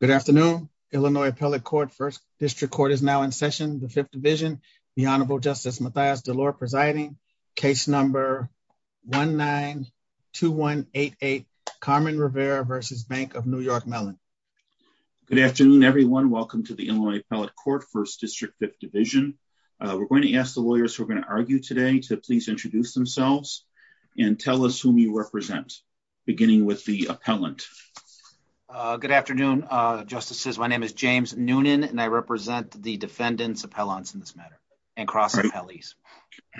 Good afternoon, Illinois Appellate Court, 1st District Court is now in session, the 5th Division, the Honorable Justice Mathias DeLore presiding, case number 1-9-2188, Carmen Rivera v. Bank of New York Mellon. Good afternoon everyone, welcome to the Illinois Appellate Court, 1st District, 5th Division. We're going to ask the lawyers who are going to argue today to please introduce themselves and tell us whom you represent, beginning with the appellant. Good afternoon, Justices, my name is James Noonan and I represent the defendants appellants in this matter, and cross appellees.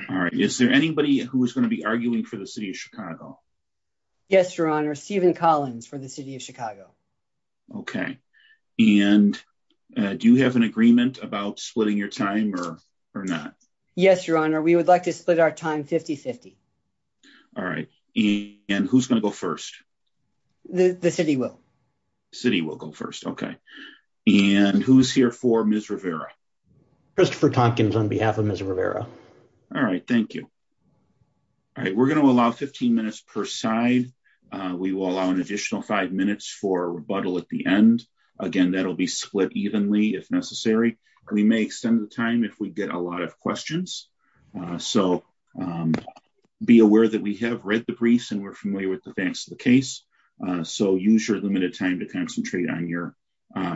All right, is there anybody who is going to be arguing for the City of Chicago? Yes, Your Honor, Stephen Collins for the City of Chicago. Okay, and do you have an agreement about splitting your time or not? Yes, Your Honor, we would like to split our time 50-50. All right, and who's going to go first? The City will. The City will go first, okay. And who's here for Ms. Rivera? Christopher Tonkins on behalf of Ms. Rivera. All right, thank you. All right, we're going to allow 15 minutes per side. We will allow an additional five minutes for rebuttal at the end. Again, that'll be split evenly if necessary. We may extend the time if we get a lot of questions. So, be aware that we have read the briefs and we're familiar with the facts of the case, so use your limited time to concentrate on your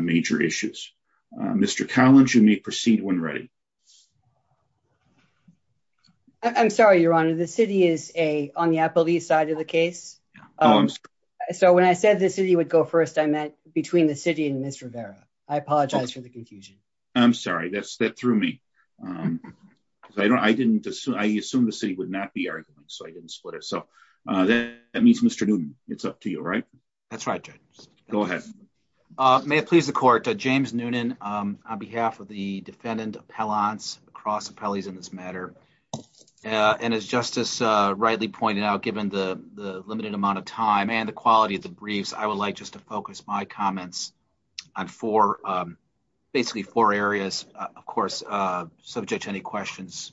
major issues. Mr. Collins, you may proceed when ready. I'm sorry, Your Honor, the City is on the appellee side of the case. Oh, I'm sorry. So when I said the City would go first, I meant between the City and Ms. Rivera. I apologize for the confusion. I'm sorry, that threw me. I assumed the City would not be arguing, so I didn't split it. So, that means Mr. Noonan, it's up to you, right? That's right, Judge. Go ahead. May it please the Court, James Noonan on behalf of the defendant appellants, cross appellees in this matter. And as Justice rightly pointed out, given the limited amount of time and the quality of the briefs, I would like just to focus my comments on four, basically four areas, of course, subject to any questions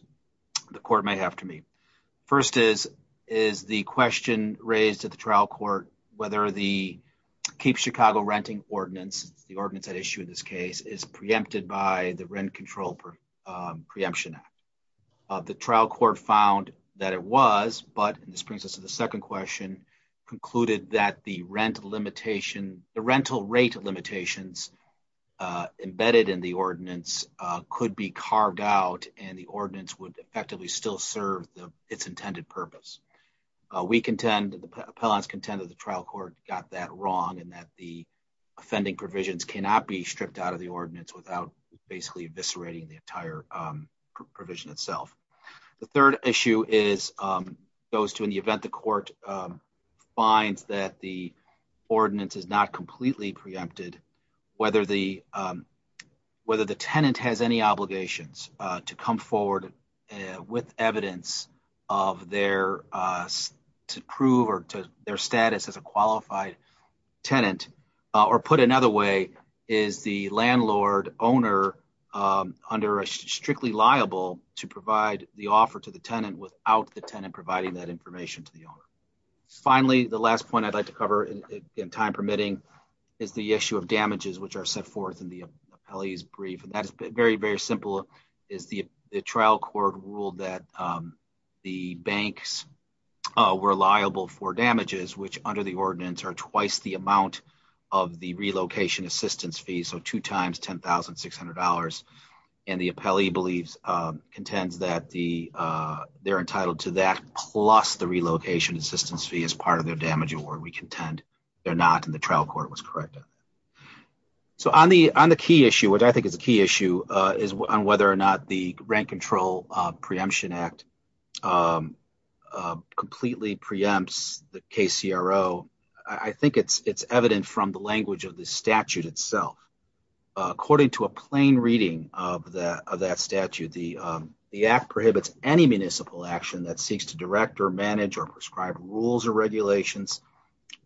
the Court may have to me. First is, is the question raised at the trial court, whether the Keep Chicago Renting Ordinance, the ordinance at issue in this case, is preempted by the Rent Control Preemption Act. The trial court found that it was, but this brings us to the second question, concluded that the rental rate limitations embedded in the ordinance could be carved out and the ordinance would effectively still serve its intended purpose. We contend, the appellants contend that the trial court got that wrong and that the offending provisions cannot be stripped out of the ordinance without basically eviscerating the entire provision itself. The third issue is, goes to in the event the court finds that the ordinance is not completely preempted, whether the, whether the tenant has any obligations to come forward with evidence of their, to prove or to their status as a qualified tenant. Or put another way, is the landlord owner under a strictly liable to provide the offer to the tenant without the tenant providing that information to the owner. Finally, the last point I'd like to cover in time permitting is the issue of damages, which are set forth in the appellee's brief. And that is very, very simple, is the trial court ruled that the banks were liable for damages, which under the ordinance are twice the amount of the relocation assistance fee. So, two times $10,600 and the appellee believes, contends that the, they're entitled to that plus the relocation assistance fee as part of their damage award. We contend they're not in the trial court was correct. So, on the on the key issue, which I think is a key issue is on whether or not the rent control preemption act. Completely preempts the KCR. Oh, I think it's, it's evident from the language of the statute itself. According to a plain reading of that of that statute, the, the app prohibits any municipal action that seeks to direct or manage or prescribe rules or regulations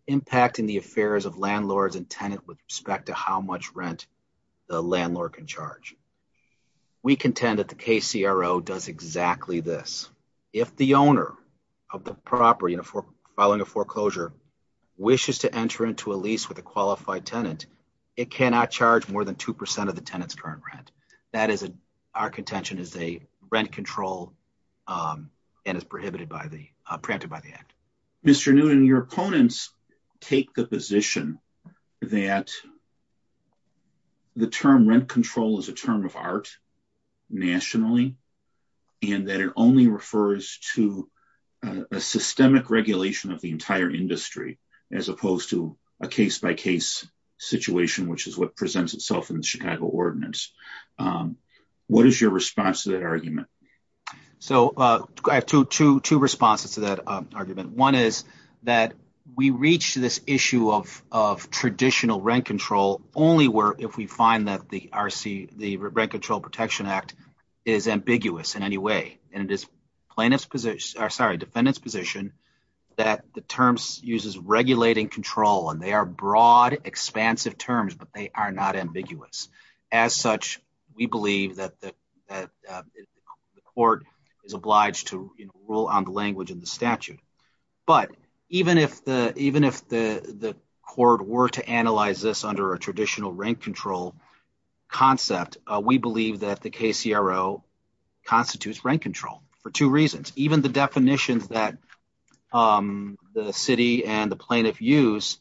impacting the affairs of landlords and tenant with respect to how much rent the landlord can charge. We contend that the KCRO does exactly this. If the owner of the property in a following a foreclosure wishes to enter into a lease with a qualified tenant, it cannot charge more than 2% of the tenants current rent. That is a, our contention is a rent control and is prohibited by the preempted by the act. Mr. Newton, your opponents, take the position that the term rent control is a term of art nationally, and that it only refers to a systemic regulation of the entire industry, as opposed to a case by case situation, which is what presents itself in the Chicago ordinance. What is your response to that argument? One is that we reached this issue of, of traditional rent control only where, if we find that the RC, the rent control protection act is ambiguous in any way, and it is plaintiffs position or sorry defendants position that the terms uses regulating control and they are broad, expansive terms, but they are not ambiguous as such. We believe that the court is obliged to rule on the language in the statute. But even if the, even if the, the court were to analyze this under a traditional rent control concept, we believe that the KCRO constitutes rent control for 2 reasons. First, even the definitions that the city and the plaintiff use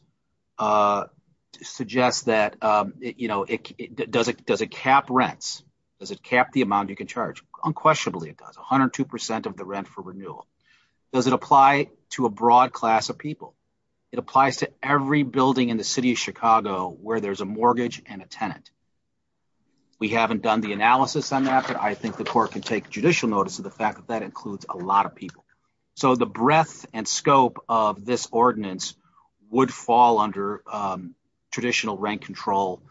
suggest that, you know, it does it does a cap rents. Does it cap the amount you can charge unquestionably it does 102% of the rent for renewal. Does it apply to a broad class of people. It applies to every building in the city of Chicago, where there's a mortgage and a tenant. We haven't done the analysis on that, but I think the court can take judicial notice of the fact that that includes a lot of people. So the breadth and scope of this ordinance would fall under traditional rent control.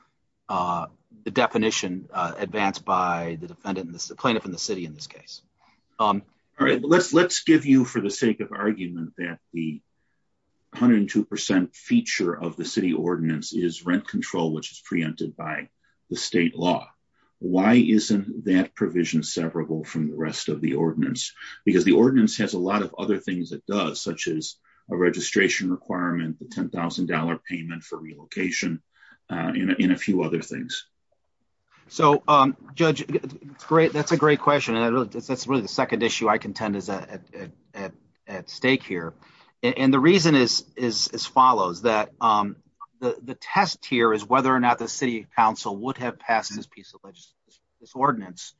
The definition advanced by the defendant and the plaintiff in the city in this case. All right, let's let's give you for the sake of argument that the 102% feature of the city ordinance is rent control which is preempted by the state law. Why isn't that provision severable from the rest of the ordinance, because the ordinance has a lot of other things that does such as a registration requirement the $10,000 payment for relocation in a few other things. So, judge. Great. That's a great question. And that's really the second issue I contend is at stake here. And the reason is, is as follows that the test here is whether or not the city council would have passed this piece of this ordinance.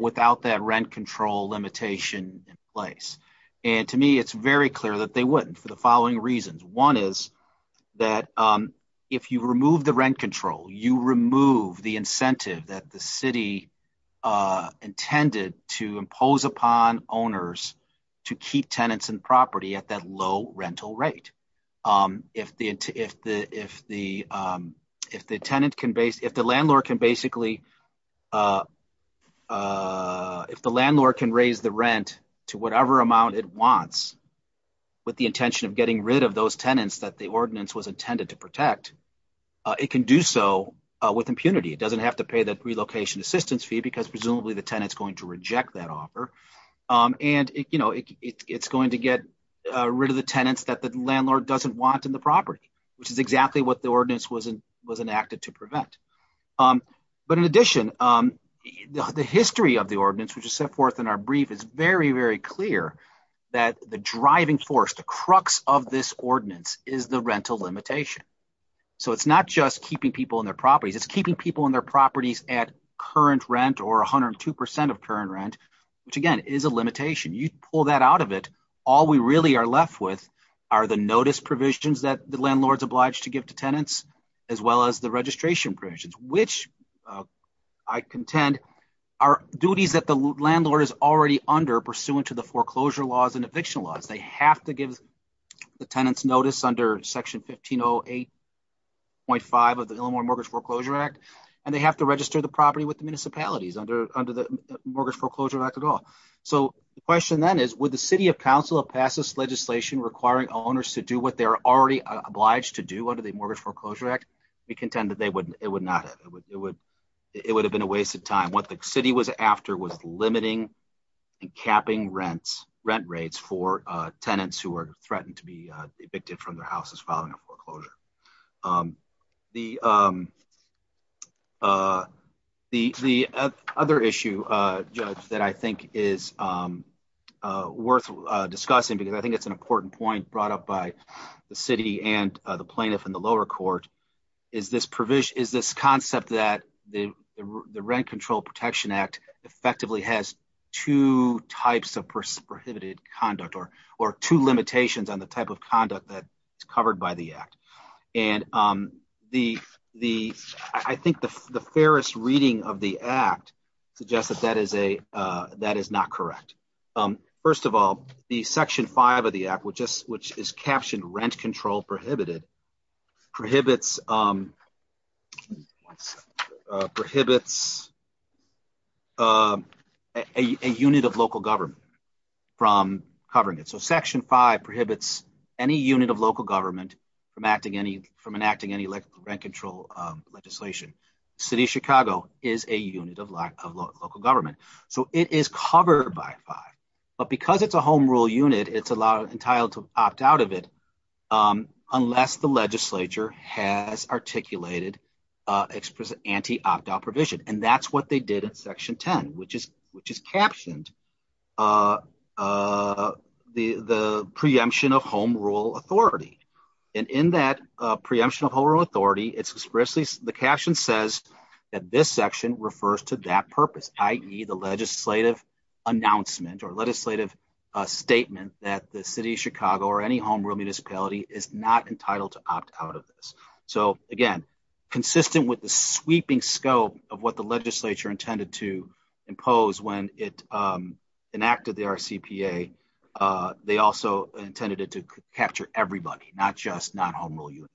Without that rent control limitation place. And to me it's very clear that they wouldn't for the following reasons. One is that. If you remove the rent control you remove the incentive that the city intended to impose upon owners to keep tenants and property at that low rental rate. If the, if the, if the, if the tenant can base if the landlord can basically. If the landlord can raise the rent to whatever amount it wants. With the intention of getting rid of those tenants that the ordinance was intended to protect. It can do so with impunity it doesn't have to pay that relocation assistance fee because presumably the tenants going to reject that offer. And, you know, it's going to get rid of the tenants that the landlord doesn't want in the property, which is exactly what the ordinance wasn't was enacted to prevent. But in addition, the history of the ordinance which is set forth in our brief is very, very clear that the driving force the crux of this ordinance is the rental limitation. So it's not just keeping people in their properties it's keeping people in their properties at current rent or 102% of current rent, which again is a limitation you pull that out of it. All we really are left with are the notice provisions that the landlords obliged to give to tenants, as well as the registration provisions, which I contend, our duties that the landlord is already under pursuant to the foreclosure laws and eviction laws they have to give the tenants notice under section 15 08.5 of the mortgage foreclosure act, and they have to register the property with the municipalities under, under the mortgage foreclosure at all. So, the question then is with the city of council of passes legislation requiring owners to do what they're already obliged to do under the mortgage foreclosure act, we contend that they wouldn't, it would not, it would, it would, it would have been a waste of time what the city was after was limiting and capping rents rent rates for tenants who are threatened to be evicted from their houses following a foreclosure. The, the, the other issue that I think is worth discussing because I think it's an important point brought up by the city and the plaintiff in the lower court. Is this provision is this concept that the rent control protection act effectively has two types of prohibited conduct or or two limitations on the type of conduct that is covered by the act. And the, the, I think the, the fairest reading of the act suggests that that is a, that is not correct. First of all, the section five of the app which is which is captioned rent control prohibited prohibits prohibits a unit of local government from covering it so section five prohibits any unit of local government from acting any from enacting any like rent control legislation. City of Chicago is a unit of local government. So, it is covered by five, but because it's a home rule unit it's a lot of entitled to opt out of it. Unless the legislature has articulated express anti opt out provision and that's what they did at section 10, which is, which is captioned the, the preemption of home rule authority. And in that preemption of authority it's expressly the caption says that this section refers to that purpose, ie the legislative announcement or legislative statement that the city of Chicago or any home real municipality is not entitled to opt out of this. So, again, consistent with the sweeping scope of what the legislature intended to impose when it enacted the CPA. They also intended it to capture everybody, not just not home rule units.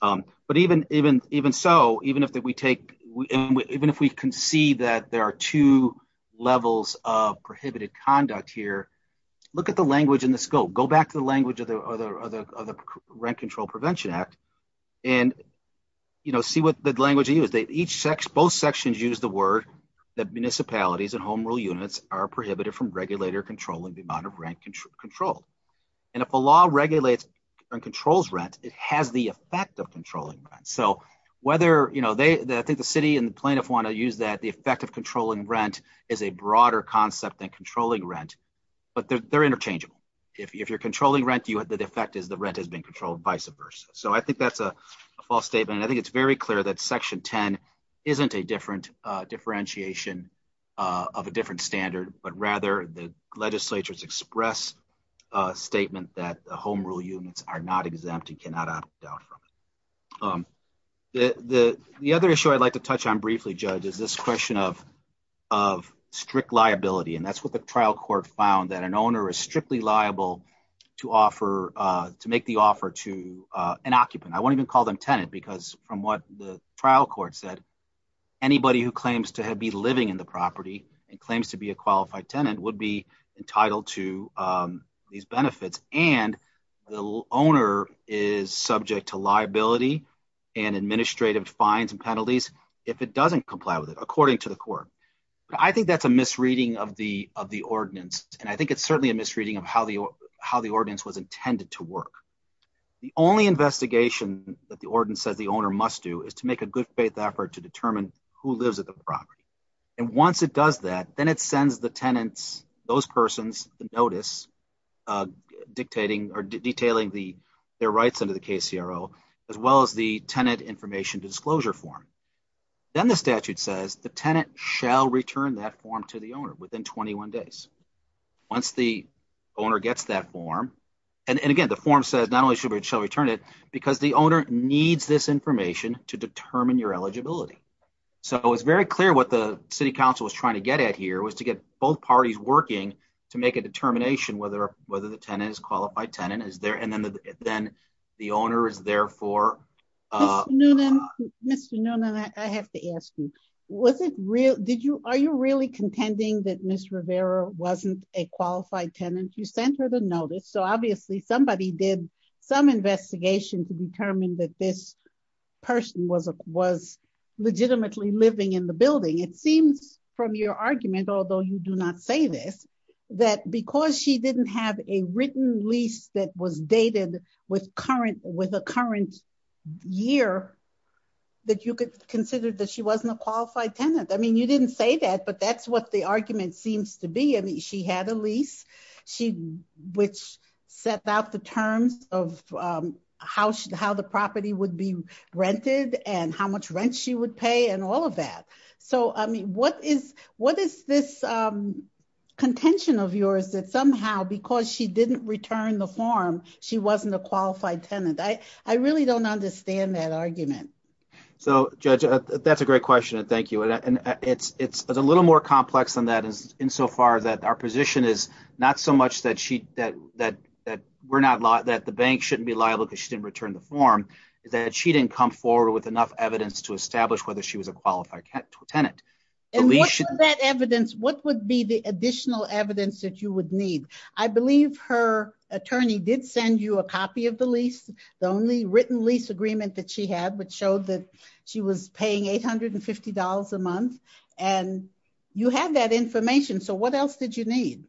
But even, even, even so, even if that we take, even if we can see that there are two levels of prohibited conduct here. Look at the language in the scope go back to the language of the other of the rent control Prevention Act. And, you know, see what the language he was they each sex both sections use the word that municipalities and home rule units are prohibited from regulator controlling the amount of rent control control. And if the law regulates and controls rent, it has the effect of controlling. So, whether you know they think the city and plaintiff want to use that the effect of controlling rent is a broader concept and controlling rent, but they're interchangeable. If you're controlling rent you have the defect is the rent has been controlled vice versa. So I think that's a false statement I think it's very clear that section 10 isn't a different differentiation of a different standard, but rather the legislature's express statement that the home rule units are not exempt and cannot doubt from the other issue I'd like to touch on briefly judge is this question of of strict liability and that's what the trial court found that an owner is strictly liable to offer to make the offer to an occupant. I won't even call them tenant because from what the trial court said anybody who claims to have be living in the property and claims to be a qualified tenant would be entitled to these benefits and the owner is subject to liability and administrative fines and penalties. If it doesn't comply with it according to the court. I think that's a misreading of the, of the ordinance, and I think it's certainly a misreading of how the, how the audience was intended to work. The only investigation that the ordinance says the owner must do is to make a good faith effort to determine who lives at the property. And once it does that, then it sends the tenants, those persons notice dictating or detailing the, their rights under the case hero, as well as the tenant information disclosure form. Then the statute says the tenant shall return that form to the owner within 21 days. Once the owner gets that form. And again, the form says not only should we return it because the owner needs this information to determine your eligibility. So it was very clear what the city council was trying to get at here was to get both parties working to make a determination whether whether the tenant is qualified tenant is there and then, then the owner is there for. No, no, no, no, I have to ask you, was it real did you are you really contending that Miss Rivera wasn't a qualified tenant you sent her the notice so obviously somebody did some investigation to determine that this person was a was legitimately It seems from your argument, although you do not say this, that because she didn't have a written lease that was dated with current with a current year that you could consider that she wasn't a qualified tenant I mean you didn't say that but that's what the argument seems to be and she had a lease. She, which set out the terms of how she how the property would be rented and how much rent she would pay and all of that. So, I mean, what is, what is this contention of yours that somehow because she didn't return the form, she wasn't a qualified tenant I, I really don't understand that argument. So, judge, that's a great question and thank you and it's it's a little more complex than that is in so far that our position is not so much that she that that that we're not like that the bank shouldn't be liable because she didn't return the form that she didn't come forward with enough evidence to establish whether she was a qualified tenant. That evidence, what would be the additional evidence that you would need. I believe her attorney did send you a copy of the lease, the only written lease agreement that she had which showed that she was paying $850 a month, and you have that information so what else did you need.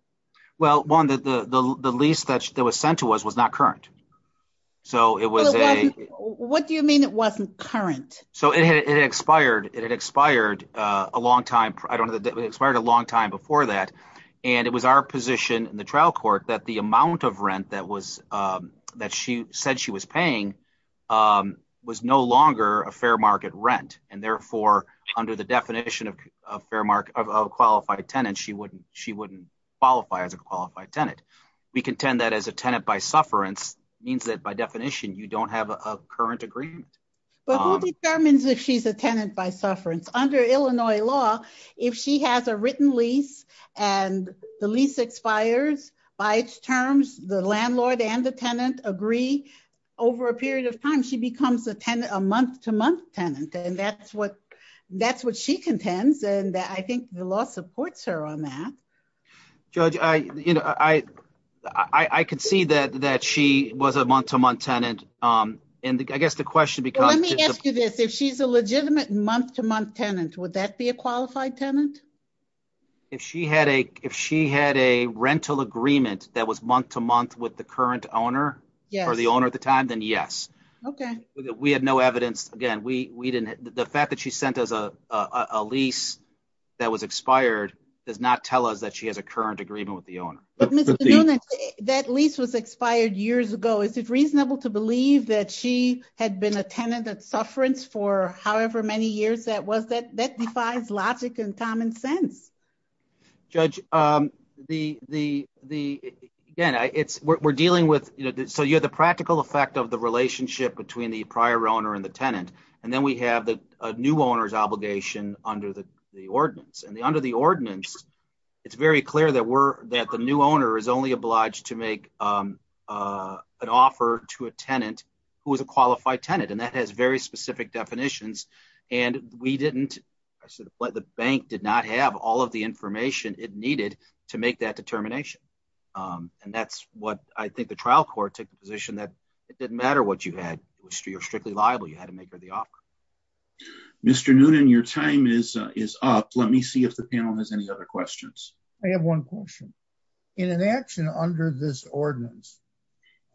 Well, one that the lease that was sent to us was not current. So, it was a, what do you mean it wasn't current. So, it had expired, it had expired, a long time, I don't know that expired a long time before that. And it was our position in the trial court that the amount of rent that was that she said she was paying was no longer a fair market rent, and therefore, under the definition of fair market of qualified tenant she wouldn't she wouldn't qualify as a qualified tenant. We contend that as a tenant by sufferance means that by definition you don't have a current agreement. But who determines if she's a tenant by sufferance under Illinois law, if she has a written lease, and the lease expires by its terms, the landlord and the tenant agree over a period of time she becomes a tenant a month to month tenant and that's what that's what she contends and I think the law supports her on that. Judge, I, you know, I, I can see that that she was a month to month tenant. And I guess the question because let me ask you this if she's a legitimate month to month tenant would that be a qualified tenant. If she had a, if she had a rental agreement that was month to month with the current owner, or the owner at the time, then yes. Okay, we had no evidence again we didn't the fact that she sent us a lease that was expired, does not tell us that she has a current agreement with the owner. That lease was expired years ago is it reasonable to believe that she had been attended that sufferance for however many years that was that that defies logic and common sense. Judge, the, the, the, again, it's we're dealing with, you know, so you have the practical effect of the relationship between the prior owner and the tenant, and then we have the new owners obligation under the ordinance and the under the ordinance. It's very clear that we're that the new owner is only obliged to make an offer to a tenant, who is a qualified tenant and that has very specific definitions, and we didn't. I said what the bank did not have all of the information it needed to make that determination. And that's what I think the trial court took the position that it didn't matter what you had, which you're strictly liable you had to make the offer. Mr. Noonan your time is is up, let me see if the panel has any other questions. I have one question in an action under this ordinance.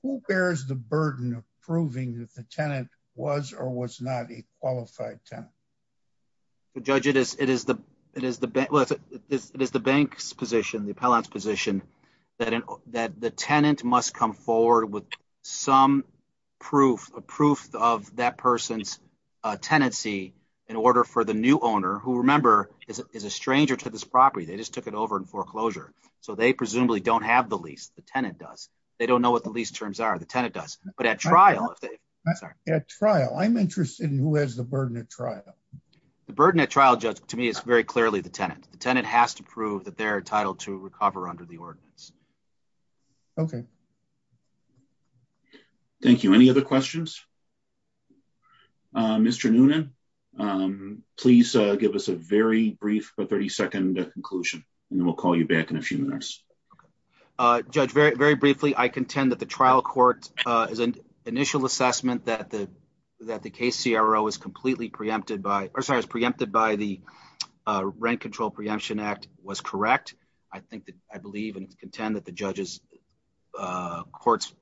Who bears the burden of proving that the tenant was or was not a qualified tenant. Judge it is it is the, it is the, it is the bank's position the appellant's position that that the tenant must come forward with some proof of proof of that person's tenancy in order for the new owner who remember is a stranger to this property they just the burden of trial judge to me is very clearly the tenant, the tenant has to prove that their title to recover under the ordinance. Okay. Thank you. Any other questions. Mr Noonan. Please give us a very brief but 32nd conclusion, and we'll call you back in a few minutes. Judge very, very briefly I contend that the trial court is an initial assessment that the that the case CRO is completely preempted by or sorry is preempted by the rent control preemption act was correct. I think that I believe and contend that the judges courts,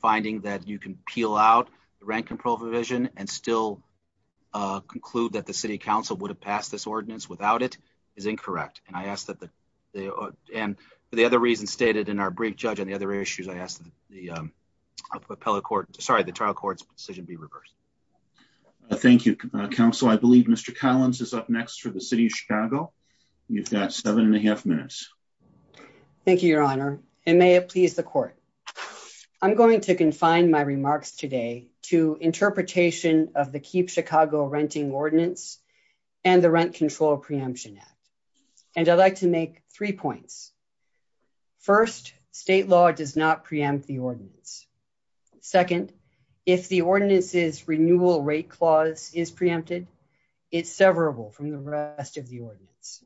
finding that you can peel out the rent control provision and still conclude that the city council would have passed this ordinance without it is incorrect, and I asked that they are. And the other reason stated in our brief judge and the other issues I asked the appellate court, sorry the trial courts decision be reversed. Thank you, counsel I believe Mr Collins is up next for the city of Chicago. You've got seven and a half minutes. Thank you, Your Honor, and may it please the court. I'm going to confine my remarks today to interpretation of the keep Chicago renting ordinance and the rent control preemption. And I'd like to make three points. First, state law does not preempt the ordinance. Second, if the ordinances renewal rate clause is preempted. It's severable from the rest of the ordinance.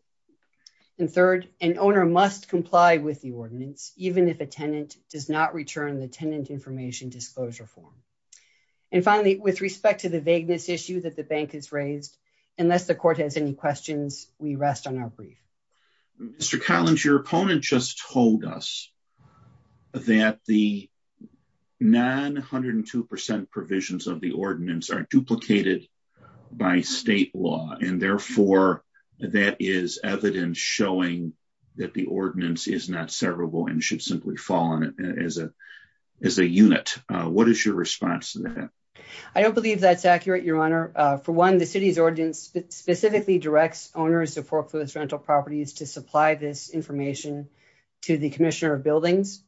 And third, and owner must comply with the ordinance, even if a tenant does not return the tenant information disclosure form. And finally, with respect to the vagueness issue that the bank is raised. Unless the court has any questions, we rest on our brief. Mr Collins your opponent just told us that the 902% provisions of the ordinance are duplicated by state law, and therefore, that is evidence showing that the ordinance is not severable and should simply fall in as a, as a unit. What is your response to that. I don't believe that's accurate, Your Honor, for one the city's ordinance specifically directs owners of foreclosed rental properties to supply this information to the commissioner of buildings.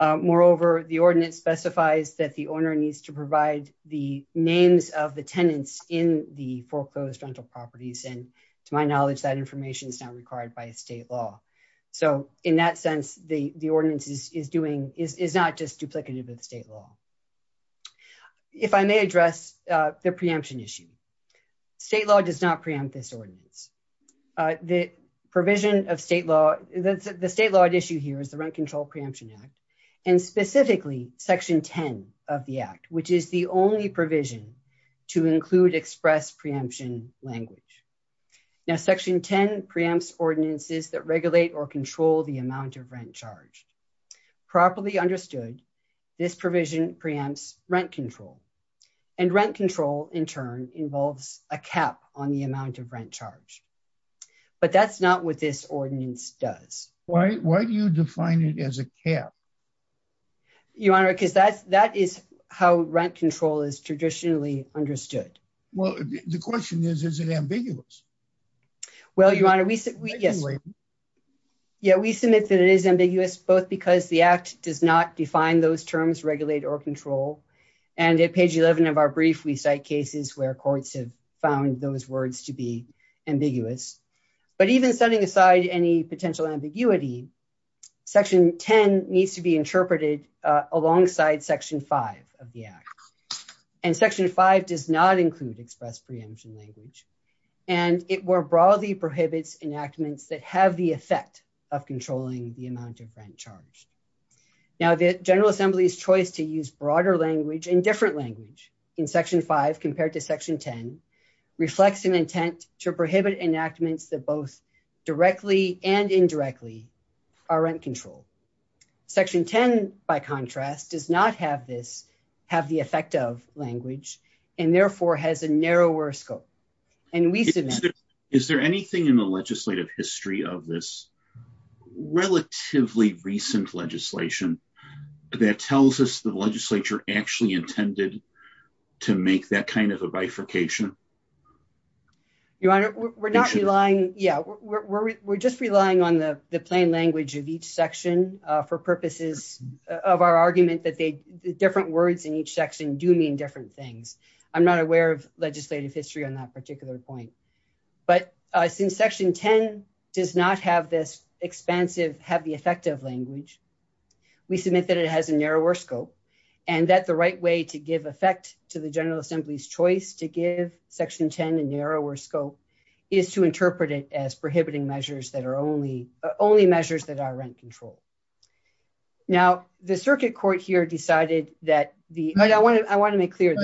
Moreover, the ordinance specifies that the owner needs to provide the names of the tenants in the foreclosed rental properties and to my knowledge that information is not required by state law. So, in that sense, the ordinances is doing is not just duplicative of the state law. If I may address the preemption issue. State law does not preempt this ordinance. The provision of state law, the state law issue here is the rent control preemption act, and specifically, section 10 of the act, which is the only provision to include express preemption language. Now section 10 preempts ordinances that regulate or control the amount of rent charged properly understood this provision preempts rent control and rent control in turn involves a cap on the amount of rent charge. But that's not what this ordinance does. Why do you define it as a care. Your Honor, because that's that is how rent control is traditionally understood. Well, the question is, is it ambiguous. Well, Your Honor, we submit that it is ambiguous, both because the act does not define those terms regulate or control and at page 11 of our brief we cite cases where courts have found those words to be ambiguous, but even setting aside any potential ambiguity. Section 10 needs to be interpreted alongside section five of the act and section five does not include express preemption language, and it were broadly prohibits enactments that have the effect of controlling the amount of rent charge. Now the General Assembly's choice to use broader language in different language in section five compared to section 10 reflects an intent to prohibit enactments that both directly and indirectly our rent control section 10. By contrast, does not have this have the effect of language, and therefore has a narrower scope. And we submit. Is there anything in the legislative history of this relatively recent legislation that tells us the legislature actually intended to make that kind of a bifurcation. Your Honor, we're not relying. Yeah, we're just relying on the plain language of each section for purposes of our argument that they different words in each section do mean different things. I'm not aware of legislative history on that particular point, but since section 10 does not have this expansive have the effect of language. We submit that it has a narrower scope, and that the right way to give effect to the General Assembly's choice to give section 10 and narrower scope is to interpret it as prohibiting measures that are only only measures that are rent control. Now, the circuit court here decided that the I want to, I want to make clear.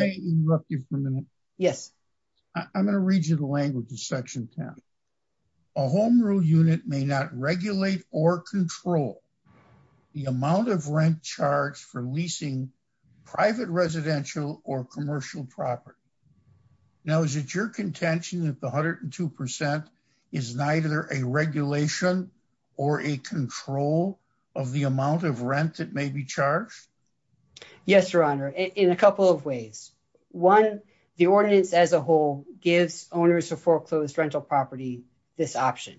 Yes, I'm going to read you the language of section 10 a home rule unit may not regulate or control the amount of rent charge for leasing private residential or commercial property. Now is it your contention that the hundred and 2% is neither a regulation or a control of the amount of rent that may be charged. Yes, Your Honor, in a couple of ways. One, the ordinance as a whole, gives owners of foreclosed rental property. This option.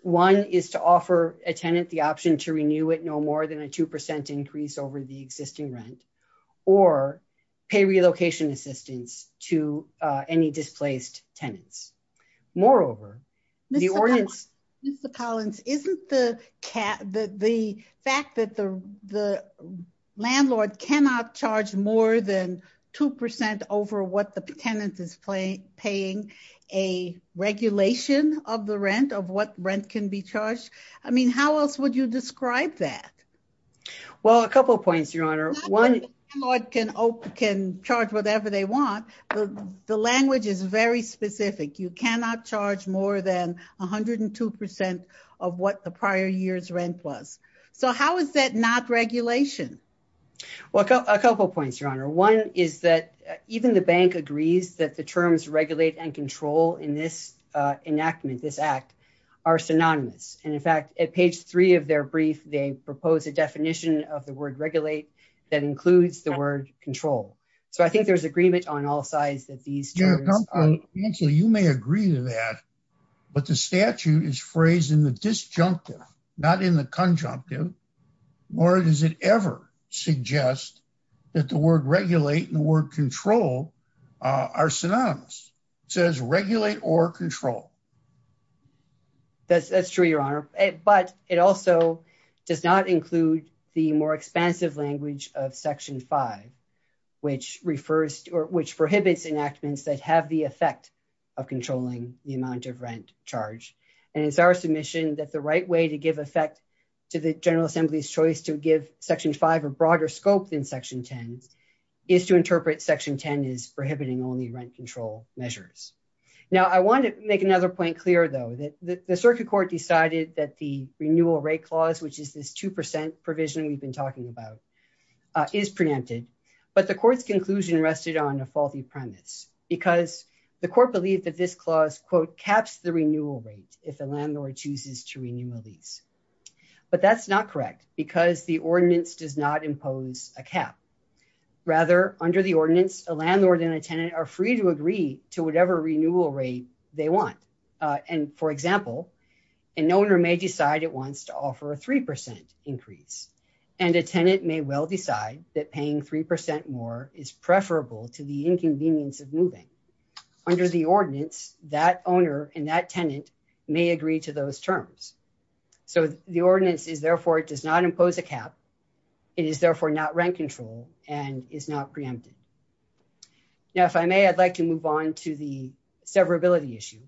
One is to offer a tenant the option to renew it no more than a 2% increase over the existing rent or pay relocation assistance to any displaced tenants. Moreover, the ordinance is the Collins isn't the cat that the fact that the, the landlord cannot charge more than 2% over what the tenant is playing paying a regulation of the rent of what rent can be charged. I mean, how else would you describe that. Well, a couple of points, Your Honor, one can open can charge whatever they want. The language is very specific, you cannot charge more than 102% of what the prior years rent was. So how is that not regulation. Well, a couple points, Your Honor. One is that even the bank agrees that the terms regulate and control in this enactment this act are synonymous. And in fact, at page three of their brief, they propose a definition of the word regulate that includes the word control. So I think there's agreement on all sides that these. So you may agree to that. But the statute is phrased in the disjunctive, not in the conjunctive, or does it ever suggest that the word regulate the word control are synonymous says regulate or control. That's true, Your Honor, but it also does not include the more expansive language of section five, which refers to which prohibits enactments that have the effect of controlling the amount of rent charge, and it's our submission that the right way to give effect to the The circuit court decided that the renewal rate clause which is this 2% provision we've been talking about is preempted, but the court's conclusion rested on a faulty premise, because the court believed that this clause quote caps the renewal rate, if the landlord chooses to renew release. But that's not correct, because the ordinance does not impose a cap. Rather, under the ordinance, a landlord and a tenant are free to agree to whatever renewal rate, they want. And for example, an owner may decide it wants to offer a 3% increase and a tenant may well decide that paying 3% more is preferable to the inconvenience of moving under the ordinance that owner and that tenant may agree to those terms. So, the ordinance is therefore it does not impose a cap. It is therefore not rent control, and is not preempted. Now if I may, I'd like to move on to the severability issue.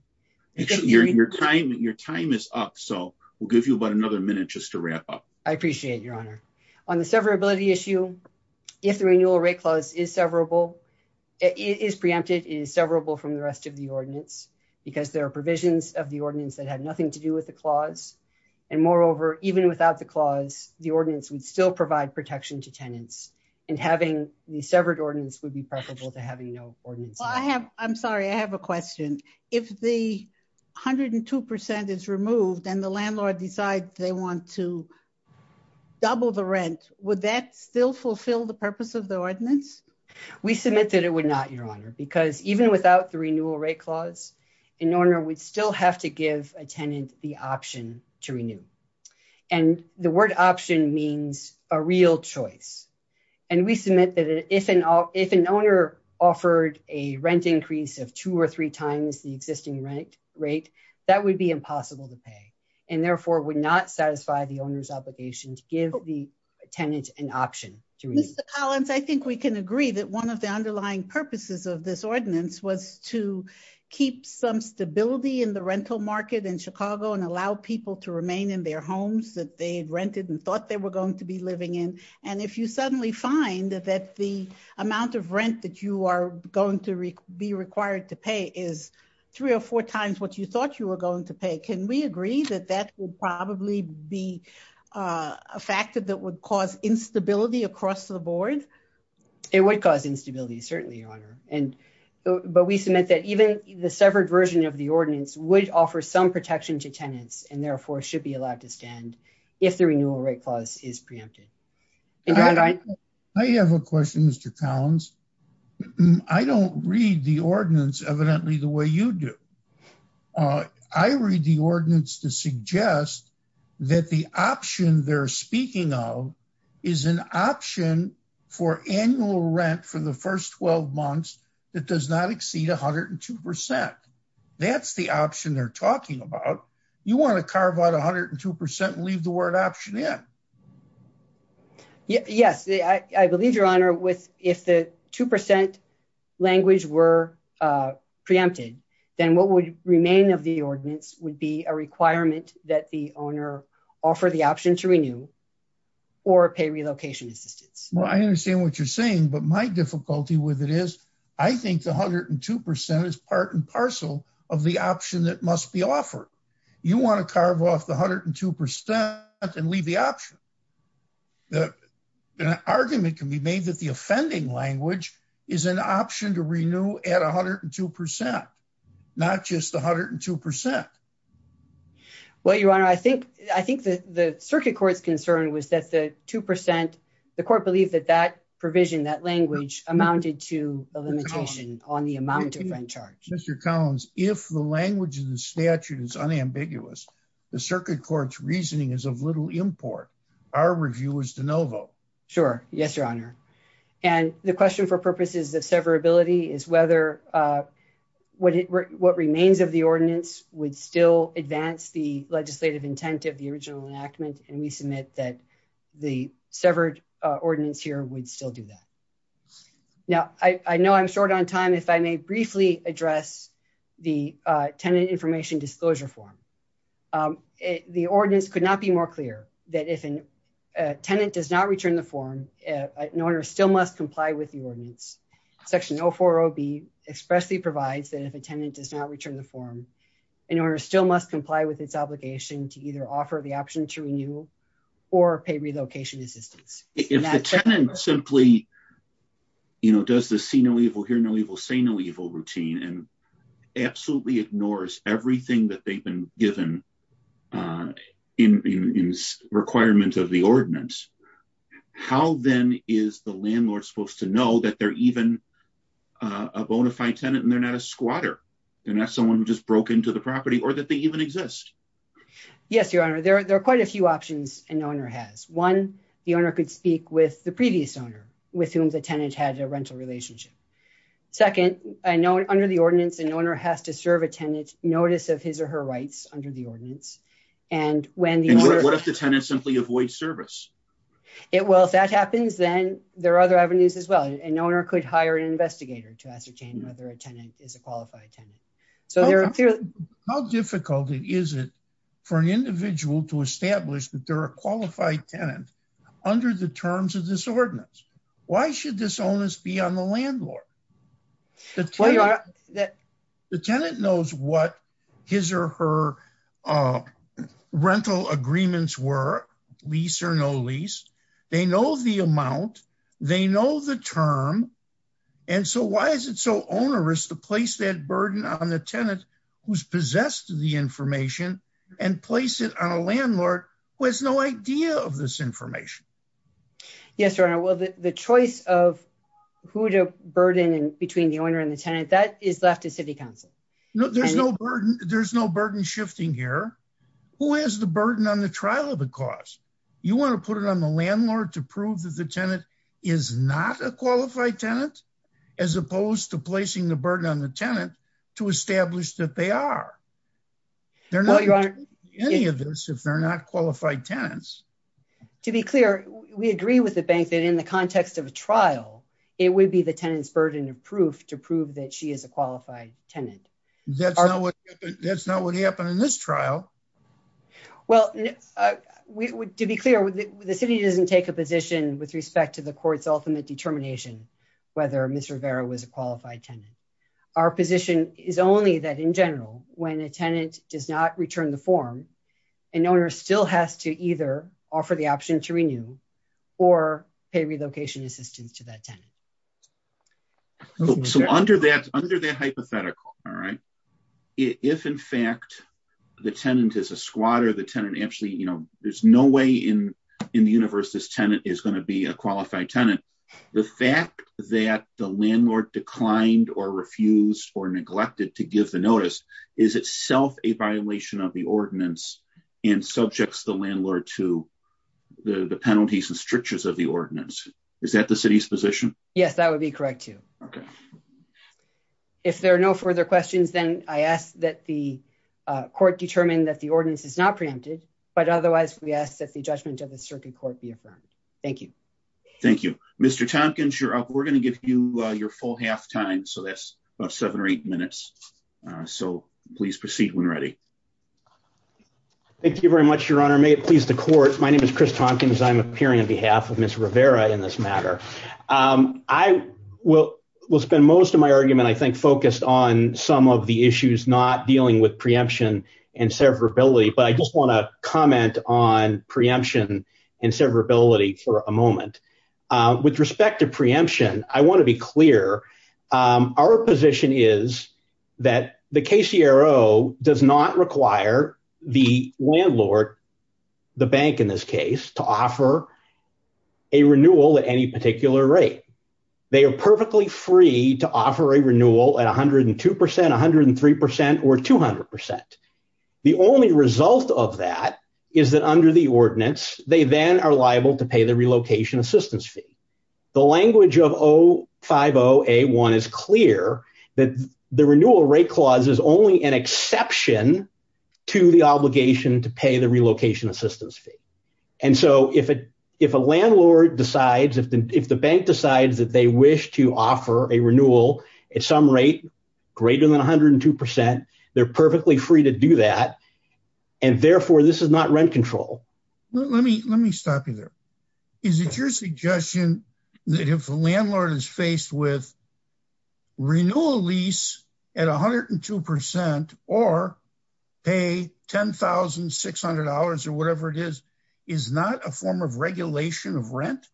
Your time, your time is up so we'll give you about another minute just to wrap up. I appreciate your honor on the severability issue. If the renewal rate clause is severable is preempted is severable from the rest of the ordinance, because there are provisions of the ordinance that have nothing to do with the clause. And moreover, even without the clause, the ordinance would still provide protection to tenants and having the severed ordinance would be preferable to having no ordinance. I have, I'm sorry I have a question. If the hundred and 2% is removed and the landlord decide they want to double the rent, would that still fulfill the purpose of the ordinance. We submitted it would not your honor because even without the renewal rate clause in order we'd still have to give a tenant, the option to renew. And the word option means a real choice. And we submit that if an if an owner offered a rent increase of two or three times the existing rent rate that would be impossible to pay, and therefore would not satisfy the owner's obligation to give the tenant, Collins I think we can agree that one of the underlying purposes of this ordinance was to keep some stability in the rental market in Chicago and allow people to remain in their homes that they rented and thought they were going to be living in. And if you suddenly find that the amount of rent that you are going to be required to pay is three or four times what you thought you were going to pay can we agree that that will probably be a factor that would cause instability across the board. It would cause instability certainly honor and but we submit that even the severed version of the ordinance would offer some protection to tenants and therefore should be allowed to stand. If the renewal rate clause is preempted. I have a question Mr Collins. I don't read the ordinance evidently the way you do. I read the ordinance to suggest that the option they're speaking of is an option for annual rent for the first 12 months. It does not exceed 102%. That's the option they're talking about. You want to carve out 102% leave the word option in. Yes, I believe your honor with if the 2% language were preempted, then what would remain of the ordinance would be a requirement that the owner offer the option to renew or pay relocation assistance. Well, I understand what you're saying, but my difficulty with it is, I think the 102% is part and parcel of the option that must be offered. You want to carve off the 102% and leave the option. The argument can be made that the offending language is an option to renew at 102% not just 102%. Well, your honor, I think, I think that the circuit court's concern was that the 2% the court believe that that provision that language amounted to a limitation on the amount of rent charge. Mr. Collins, if the language of the statute is unambiguous. The circuit court's reasoning is of little import. Our review is de novo. Sure. Yes, your honor. And the question for purposes of severability is whether what remains of the ordinance would still advance the legislative intent of the original enactment and we submit that the severed ordinance here would still do that. Now, I know I'm short on time if I may briefly address the tenant information disclosure form. The ordinance could not be more clear that if a tenant does not return the form in order still must comply with the ordinance section no for OB expressly provides that if a tenant does not return the form in order still must comply with its obligation to either everything that they've been given in requirement of the ordinance. How then is the landlord supposed to know that they're even a bona fide tenant and they're not a squatter and that someone just broke into the property or that they even exist. Yes, your honor there are quite a few options and owner has one, the owner could speak with the previous owner, with whom the tenant had a rental relationship. Second, I know under the ordinance and owner has to serve attendance notice of his or her rights under the ordinance. And when the tenant simply avoid service. It will that happens then there are other avenues as well and owner could hire an investigator to ascertain whether a tenant is a qualified tenant. How difficult it is it for an individual to establish that there are qualified tenant under the terms of this ordinance. Why should this onus be on the landlord. The tenant knows what his or her rental agreements were lease or no lease. They know the amount. They know the term. And so why is it so onerous to place that burden on the tenant who's possessed the information and place it on a landlord was no idea of this information. Yes or no. Well, the choice of who to burden and between the owner and the tenant that is left to city council. No, there's no burden. There's no burden shifting here. Who is the burden on the trial of the cause. You want to put it on the landlord to prove that the tenant is not a qualified tenant, as opposed to placing the burden on the tenant to establish that they are. Any of this if they're not qualified tenants. To be clear, we agree with the bank that in the context of a trial, it would be the tenants burden of proof to prove that she is a qualified tenant. That's not what that's not what happened in this trial. Well, we would to be clear with the city doesn't take a position with respect to the courts ultimate determination, whether Mr Vera was a qualified tenant. Our position is only that in general, when a tenant does not return the form and owner still has to either offer the option to renew or pay relocation assistance to that tenant. So under that under that hypothetical. All right. If in fact, the tenant is a squatter the tenant actually you know there's no way in, in the universe this tenant is going to be a qualified tenant. The fact that the landlord declined or refused or neglected to give the notice is itself a violation of the ordinance and subjects the landlord to the penalties and strictures of the ordinance. Is that the city's position. Yes, that would be correct to. Okay. If there are no further questions then I asked that the court determined that the ordinance is not preempted, but otherwise we asked that the judgment of the circuit court be affirmed. Thank you. Thank you, Mr Tompkins you're up we're going to give you your full half time so that's about seven or eight minutes. So, please proceed when ready. Thank you very much, Your Honor may it please the court. My name is Chris Tompkins I'm appearing on behalf of Miss Rivera in this matter. I will will spend most of my argument I think focused on some of the issues not dealing with preemption and severability but I just want to comment on preemption and severability for a moment. With respect to preemption, I want to be clear. Our position is that the KCRO does not require the landlord. The bank in this case to offer a renewal at any particular rate. They are perfectly free to offer a renewal at 102%, 103% or 200%. The only result of that is that under the ordinance, they then are liable to pay the relocation assistance fee. The language of 050A1 is clear that the renewal rate clause is only an exception to the obligation to pay the relocation assistance fee. And so if a landlord decides if the bank decides that they wish to offer a renewal at some rate greater than 102%, they're perfectly free to do that. And therefore, this is not rent control. Let me let me stop you there. Is it your suggestion that if a landlord is faced with renewal lease at 102% or pay $10,600 or whatever it is, is not a form of regulation of rent?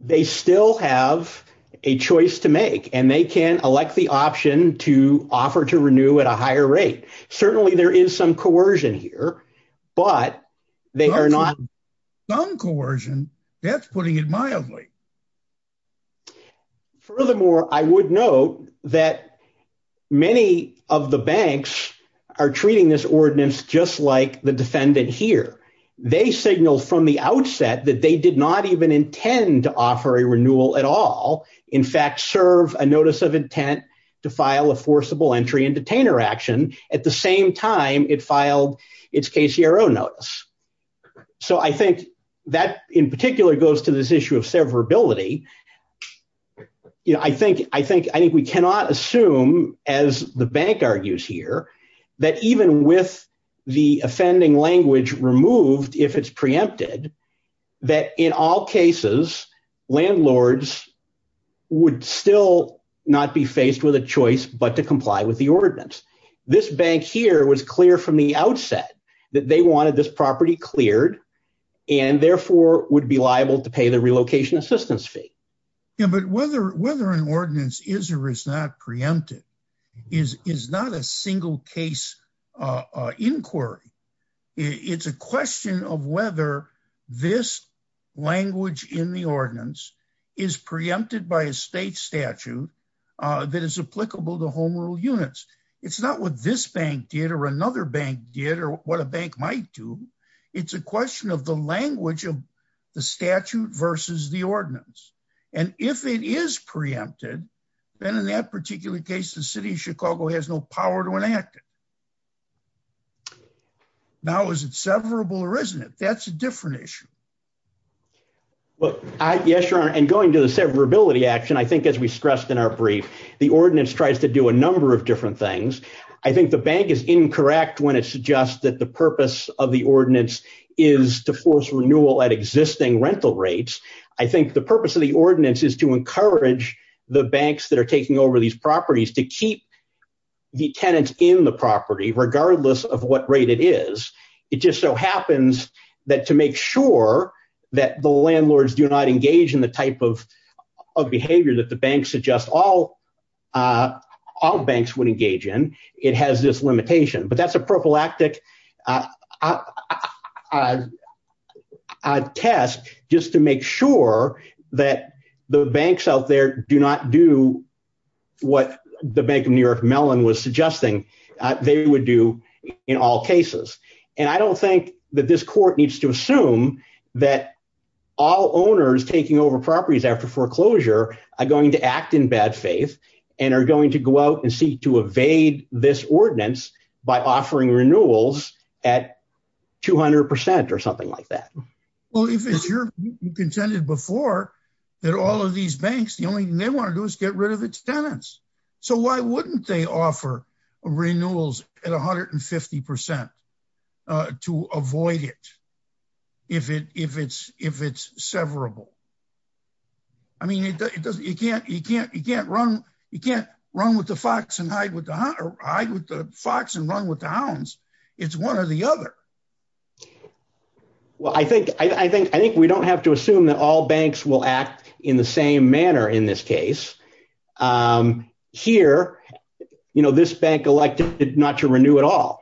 They still have a choice to make and they can elect the option to offer to renew at a higher rate. Certainly, there is some coercion here, but they are not. Non-coercion? That's putting it mildly. Furthermore, I would note that many of the banks are treating this ordinance just like the defendant here. They signal from the outset that they did not even intend to offer a renewal at all. In fact, serve a notice of intent to file a forcible entry and detainer action. At the same time, it filed its KCRO notice. So I think that in particular goes to this issue of severability. I think we cannot assume, as the bank argues here, that even with the offending language removed, if it's preempted, that in all cases, landlords would still not be faced with a choice but to comply with the ordinance. This bank here was clear from the outset that they wanted this property cleared and therefore would be liable to pay the relocation assistance fee. But whether an ordinance is or is not preempted is not a single case inquiry. It's a question of whether this language in the ordinance is preempted by a state statute that is applicable to home rule units. It's not what this bank did or another bank did or what a bank might do. It's a question of the language of the statute versus the ordinance. And if it is preempted, then in that particular case, the city of Chicago has no power to enact it. Now, is it severable or isn't it? That's a different issue. Well, yes, Your Honor. And going to the severability action, I think, as we stressed in our brief, the ordinance tries to do a number of different things. I think the bank is incorrect when it suggests that the purpose of the ordinance is to force renewal at existing rental rates. I think the purpose of the ordinance is to encourage the banks that are taking over these properties to keep the tenants in the property, regardless of what rate it is. It just so happens that to make sure that the landlords do not engage in the type of behavior that the banks suggest all banks would engage in, it has this limitation. But that's a prophylactic test just to make sure that the banks out there do not do what the Bank of New York Mellon was suggesting they would do in all cases. And I don't think that this court needs to assume that all owners taking over properties after foreclosure are going to act in bad faith and are going to go out and seek to evade this ordinance by offering renewals at 200 percent or something like that. Well, you contended before that all of these banks, the only thing they want to do is get rid of its tenants. So why wouldn't they offer renewals at 150 percent to avoid it if it's severable? I mean, you can't run with the fox and hide with the fox and run with the hounds. It's one or the other. Well, I think I think I think we don't have to assume that all banks will act in the same manner in this case. Here, you know, this bank elected not to renew at all.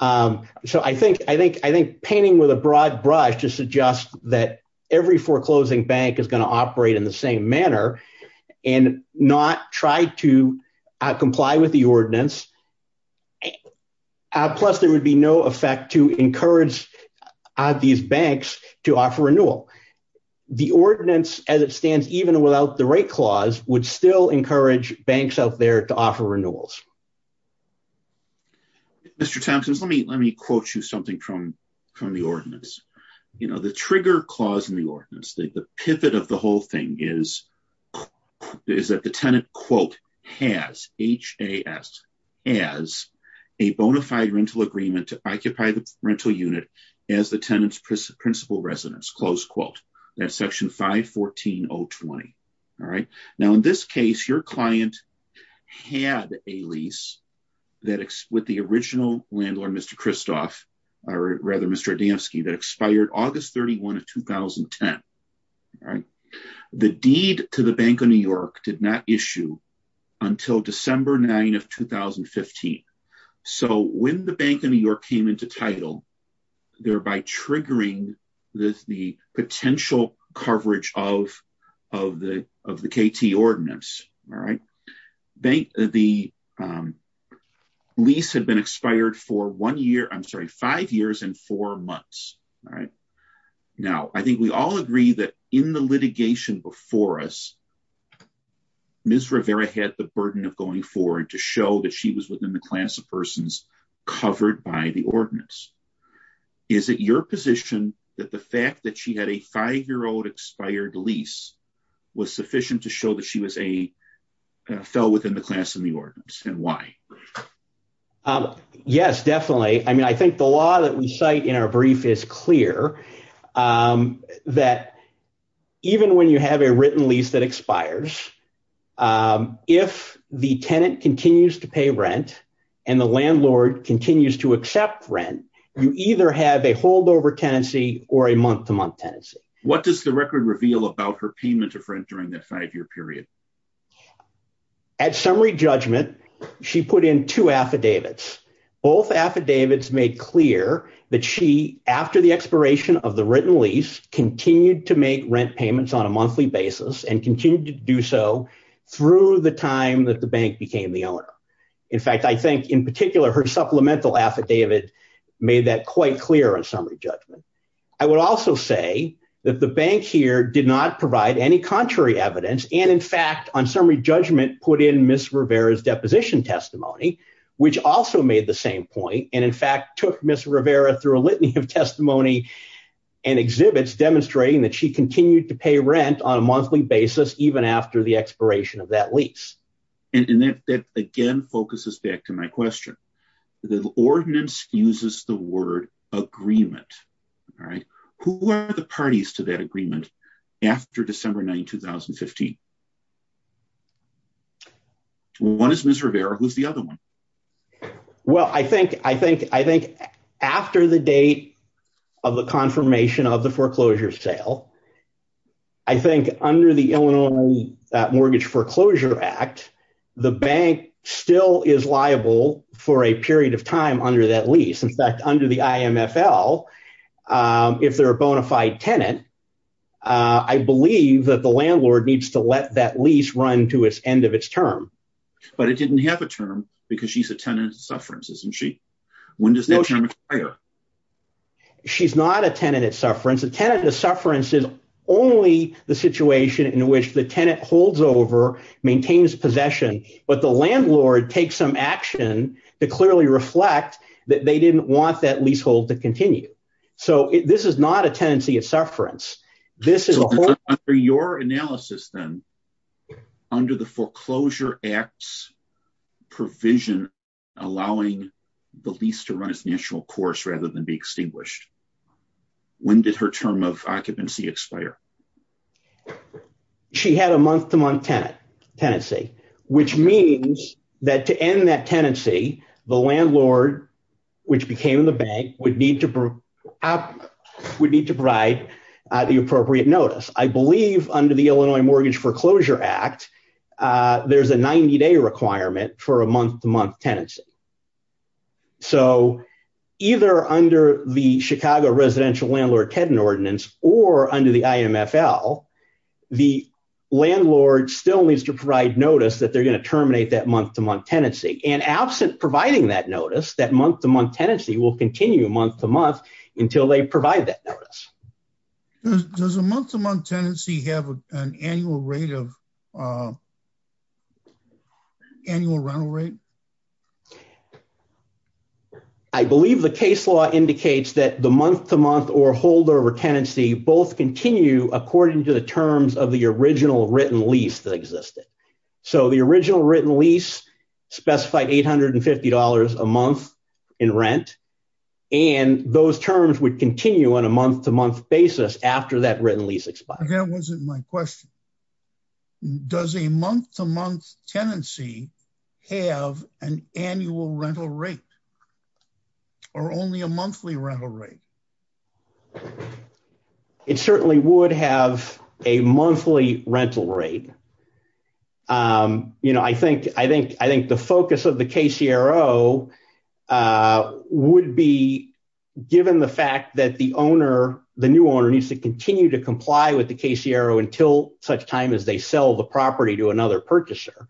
So I think I think I think painting with a broad brush to suggest that every foreclosing bank is going to operate in the same manner and not try to comply with the ordinance. Plus, there would be no effect to encourage these banks to offer renewal. The ordinance, as it stands, even without the right clause, would still encourage banks out there to offer renewals. Mr. Tompkins, let me let me quote you something from from the ordinance. You know, the trigger clause in the ordinance, the pivot of the whole thing is, is that the tenant, quote, has H.A.S. as a bona fide rental agreement to occupy the rental unit as the tenant's principal residence. Close quote that section 514 020. All right. Now, in this case, your client had a lease that with the original landlord, Mr. Christoph, or rather, Mr. Adamski, that expired August 31 of 2010. The deed to the Bank of New York did not issue until December 9 of 2015. So when the Bank of New York came into title, thereby triggering the potential coverage of of the of the KT ordinance. All right. The lease had been expired for one year. I'm sorry, five years and four months. All right. Now, I think we all agree that in the litigation before us, Ms. Rivera had the burden of going forward to show that she was within the class of persons covered by the ordinance. Is it your position that the fact that she had a five year old expired lease was sufficient to show that she was a fell within the class of the ordinance and why? Yes, definitely. I mean, I think the law that we cite in our brief is clear that even when you have a written lease that expires, if the tenant continues to pay rent and the landlord continues to accept rent, you either have a holdover tenancy or a month to month tenancy. What does the record reveal about her payment of rent during that five year period? At summary judgment, she put in two affidavits. Both affidavits made clear that she, after the expiration of the written lease, continued to make rent payments on a monthly basis and continued to do so through the time that the bank became the owner. In fact, I think in particular, her supplemental affidavit made that quite clear on summary judgment. I would also say that the bank here did not provide any contrary evidence. And in fact, on summary judgment, put in Ms. Rivera's deposition testimony, which also made the same point. And in fact, took Ms. Rivera through a litany of testimony and exhibits demonstrating that she continued to pay rent on a monthly basis, even after the expiration of that lease. And that, again, focuses back to my question. The ordinance uses the word agreement. Who are the parties to that agreement after December 9, 2015? One is Ms. Rivera, who's the other one? Well, I think after the date of the confirmation of the foreclosure sale, I think under the Illinois Mortgage Foreclosure Act, the bank still is liable for a period of time under that lease. In fact, under the IMFL, if they're a bona fide tenant, I believe that the landlord needs to let that lease run to its end of its term. But it didn't have a term because she's a tenant at sufferance, isn't she? When does that term expire? She's not a tenant at sufferance. A tenant at sufferance is only the situation in which the tenant holds over, maintains possession, but the landlord takes some action to clearly reflect that they didn't want that leasehold to continue. So this is not a tenancy at sufferance. So under your analysis then, under the Foreclosure Act's provision allowing the lease to run its national course rather than be extinguished, when did her term of occupancy expire? She had a month-to-month tenancy, which means that to end that tenancy, the landlord, which became the bank, would need to provide the appropriate notice. I believe under the Illinois Mortgage Foreclosure Act, there's a 90-day requirement for a month-to-month tenancy. So either under the Chicago Residential Landlord Tenant Ordinance or under the IMFL, the landlord still needs to provide notice that they're going to terminate that month-to-month tenancy. And absent providing that notice, that month-to-month tenancy will continue month-to-month until they provide that notice. Does a month-to-month tenancy have an annual rental rate? I believe the case law indicates that the month-to-month or holdover tenancy both continue according to the terms of the original written lease that existed. So the original written lease specified $850 a month in rent, and those terms would continue on a month-to-month basis after that written lease expired. That wasn't my question. Does a month-to-month tenancy have an annual rental rate or only a monthly rental rate? It certainly would have a monthly rental rate. You know, I think the focus of the KCRO would be given the fact that the owner, the new owner, needs to continue to comply with the KCRO until such time as they sell the property to another purchaser.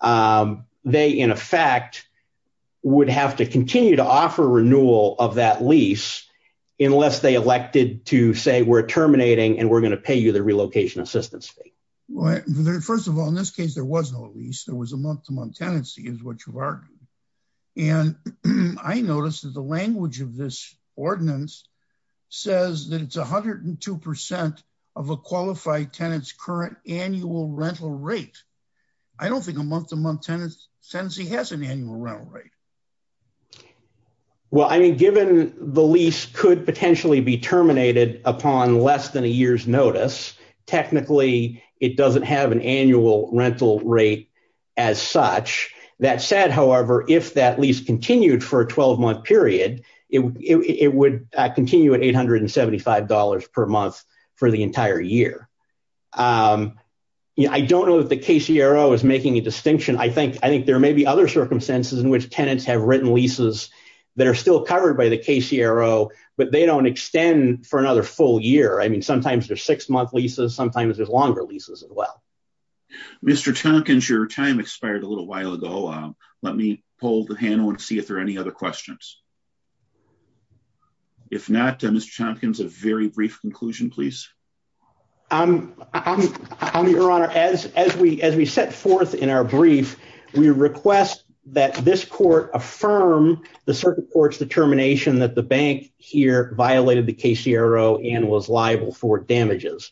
They, in effect, would have to continue to offer renewal of that lease unless they elected to say we're terminating and we're going to pay you the relocation assistance fee. First of all, in this case, there was no lease. There was a month-to-month tenancy is what you've argued. And I noticed that the language of this ordinance says that it's 102% of a qualified tenant's current annual rental rate. I don't think a month-to-month tenancy has an annual rental rate. Well, I mean, given the lease could potentially be terminated upon less than a year's notice, technically, it doesn't have an annual rental rate as such. That said, however, if that lease continued for a 12-month period, it would continue at $875 per month for the entire year. I don't know if the KCRO is making a distinction. I think there may be other circumstances in which tenants have written leases that are still covered by the KCRO, but they don't extend for another full year. I mean, sometimes there's six-month leases. Sometimes there's longer leases as well. Mr. Tompkins, your time expired a little while ago. Let me pull the panel and see if there are any other questions. If not, Mr. Tompkins, a very brief conclusion, please. Your Honor, as we set forth in our brief, we request that this court affirm the circuit court's determination that the bank here violated the KCRO and was liable for damages.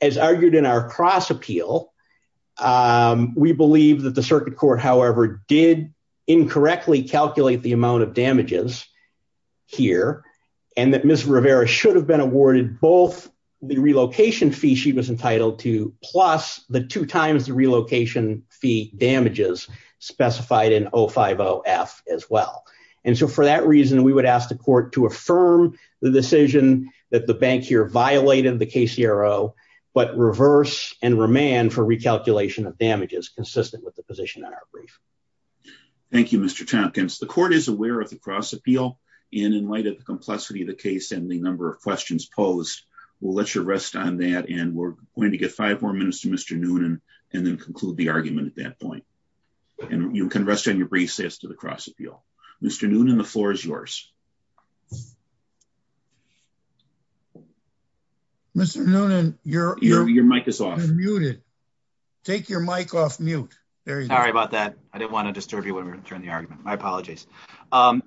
As argued in our cross-appeal, we believe that the circuit court, however, did incorrectly calculate the amount of damages here, and that Ms. Rivera should have been awarded both the relocation fee she was entitled to plus the two times the relocation fee damages specified in 050-F as well. And so for that reason, we would ask the court to affirm the decision that the bank here violated the KCRO, but reverse and remand for recalculation of damages consistent with the position in our brief. Thank you, Mr. Tompkins. The court is aware of the cross-appeal, and in light of the complexity of the case and the number of questions posed, we'll let you rest on that. And we're going to get five more minutes to Mr. Noonan and then conclude the argument at that point. And you can rest on your brief as to the cross-appeal. Mr. Noonan, the floor is yours. Mr. Noonan, your mic is off. You're muted. Take your mic off mute. Sorry about that. I didn't want to disturb you when we were turning the argument. My apologies. So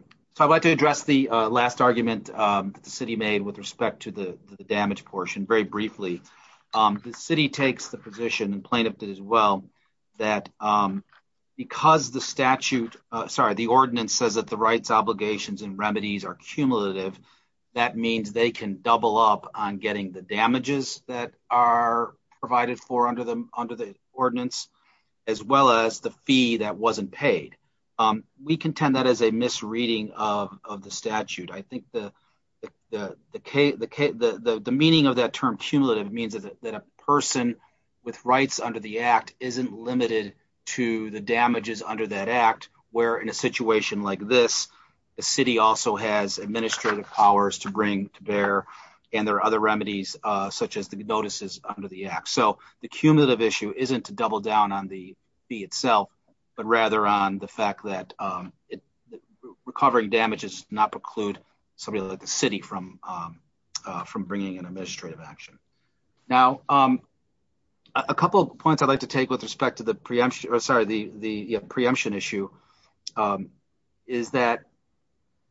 I'd like to address the last argument that the city made with respect to the damage portion very briefly. The city takes the position, and plaintiff did as well, that because the statute, sorry, the ordinance says that the rights, obligations, and remedies are cumulative, that means they can double up on getting the damages that are provided for under the ordinance, as well as the fee that wasn't paid. We contend that is a misreading of the statute. I think the meaning of that term cumulative means that a person with rights under the act isn't limited to the damages under that act, where in a situation like this, the city also has administrative powers to bring, to bear, and there are other remedies, such as the notices under the act. So the cumulative issue isn't to double down on the fee itself, but rather on the fact that recovering damages does not preclude somebody like the city from bringing in administrative action. Now, a couple of points I'd like to take with respect to the preemption issue is that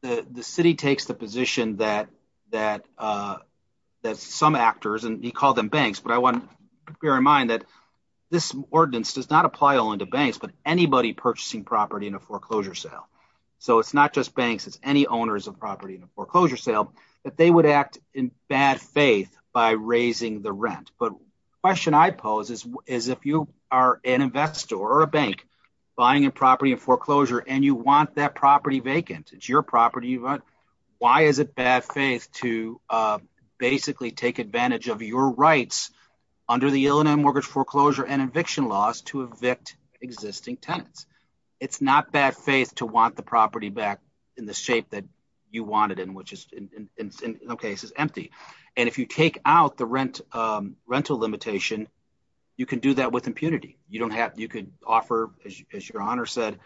the city takes the position that some actors, and he called them banks, but I want to bear in mind that this ordinance does not apply only to banks, but anybody purchasing property in a foreclosure sale. So it's not just banks, it's any owners of property in a foreclosure sale, that they would act in bad faith by raising the rent. But the question I pose is if you are an investor or a bank buying a property in foreclosure and you want that property vacant, it's your property, why is it bad faith to basically take advantage of your rights under the Illinois Mortgage Foreclosure and Eviction Laws to evict existing tenants? It's not bad faith to want the property back in the shape that you want it in, which is, in some cases, empty. And if you take out the rental limitation, you can do that with impunity. You could offer, as your Honor said,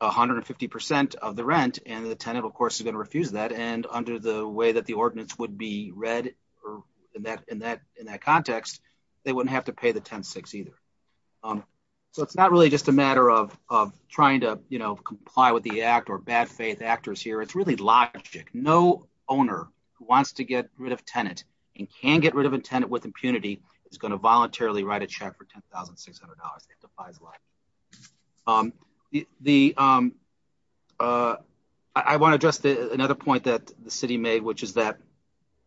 150% of the rent, and the tenant, of course, is going to refuse that. And under the way that the ordinance would be read in that context, they wouldn't have to pay the 10-6 either. So it's not really just a matter of trying to comply with the act or bad faith actors here. It's really logic. No owner who wants to get rid of tenant and can get rid of a tenant with impunity is going to voluntarily write a check for $10,600. It defies law. I want to address another point that the city made, which is that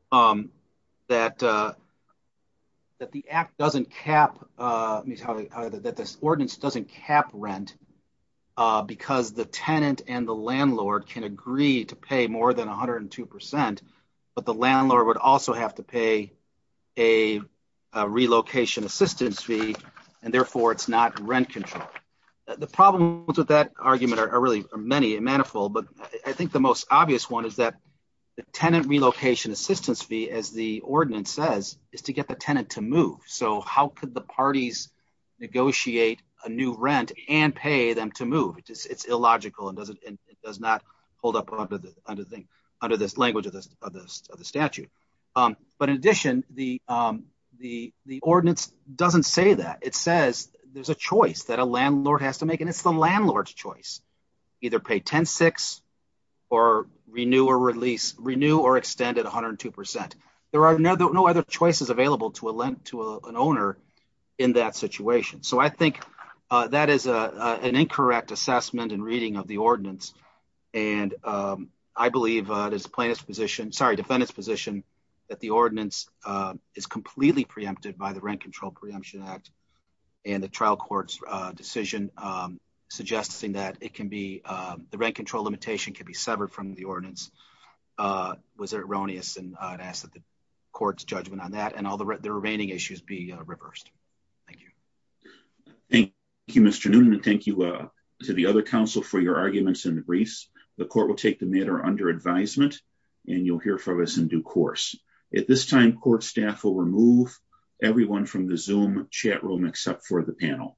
the ordinance doesn't cap rent because the tenant and the landlord can agree to pay more than 102%, but the landlord would also have to pay a relocation assistance fee. And therefore, it's not rent control. The problems with that argument are really many and manifold, but I think the most obvious one is that the tenant relocation assistance fee, as the ordinance says, is to get the tenant to move. So how could the parties negotiate a new rent and pay them to move? It's illogical and does not hold up under this language of the statute. But in addition, the ordinance doesn't say that. It says there's a choice that a landlord has to make, and it's the landlord's choice. Either pay 10-6 or renew or extend it 102%. There are no other choices available to an owner in that situation. So I think that is an incorrect assessment and reading of the ordinance. And I believe the defendant's position that the ordinance is completely preempted by the Rent Control Preemption Act and the trial court's decision suggesting that the rent control limitation can be severed from the ordinance was erroneous. And I ask that the court's judgment on that and all the remaining issues be reversed. Thank you. Thank you, Mr. Noonan. Thank you to the other counsel for your arguments in the briefs. The court will take the matter under advisement, and you'll hear from us in due course. At this time, court staff will remove everyone from the Zoom chat room except for the panel.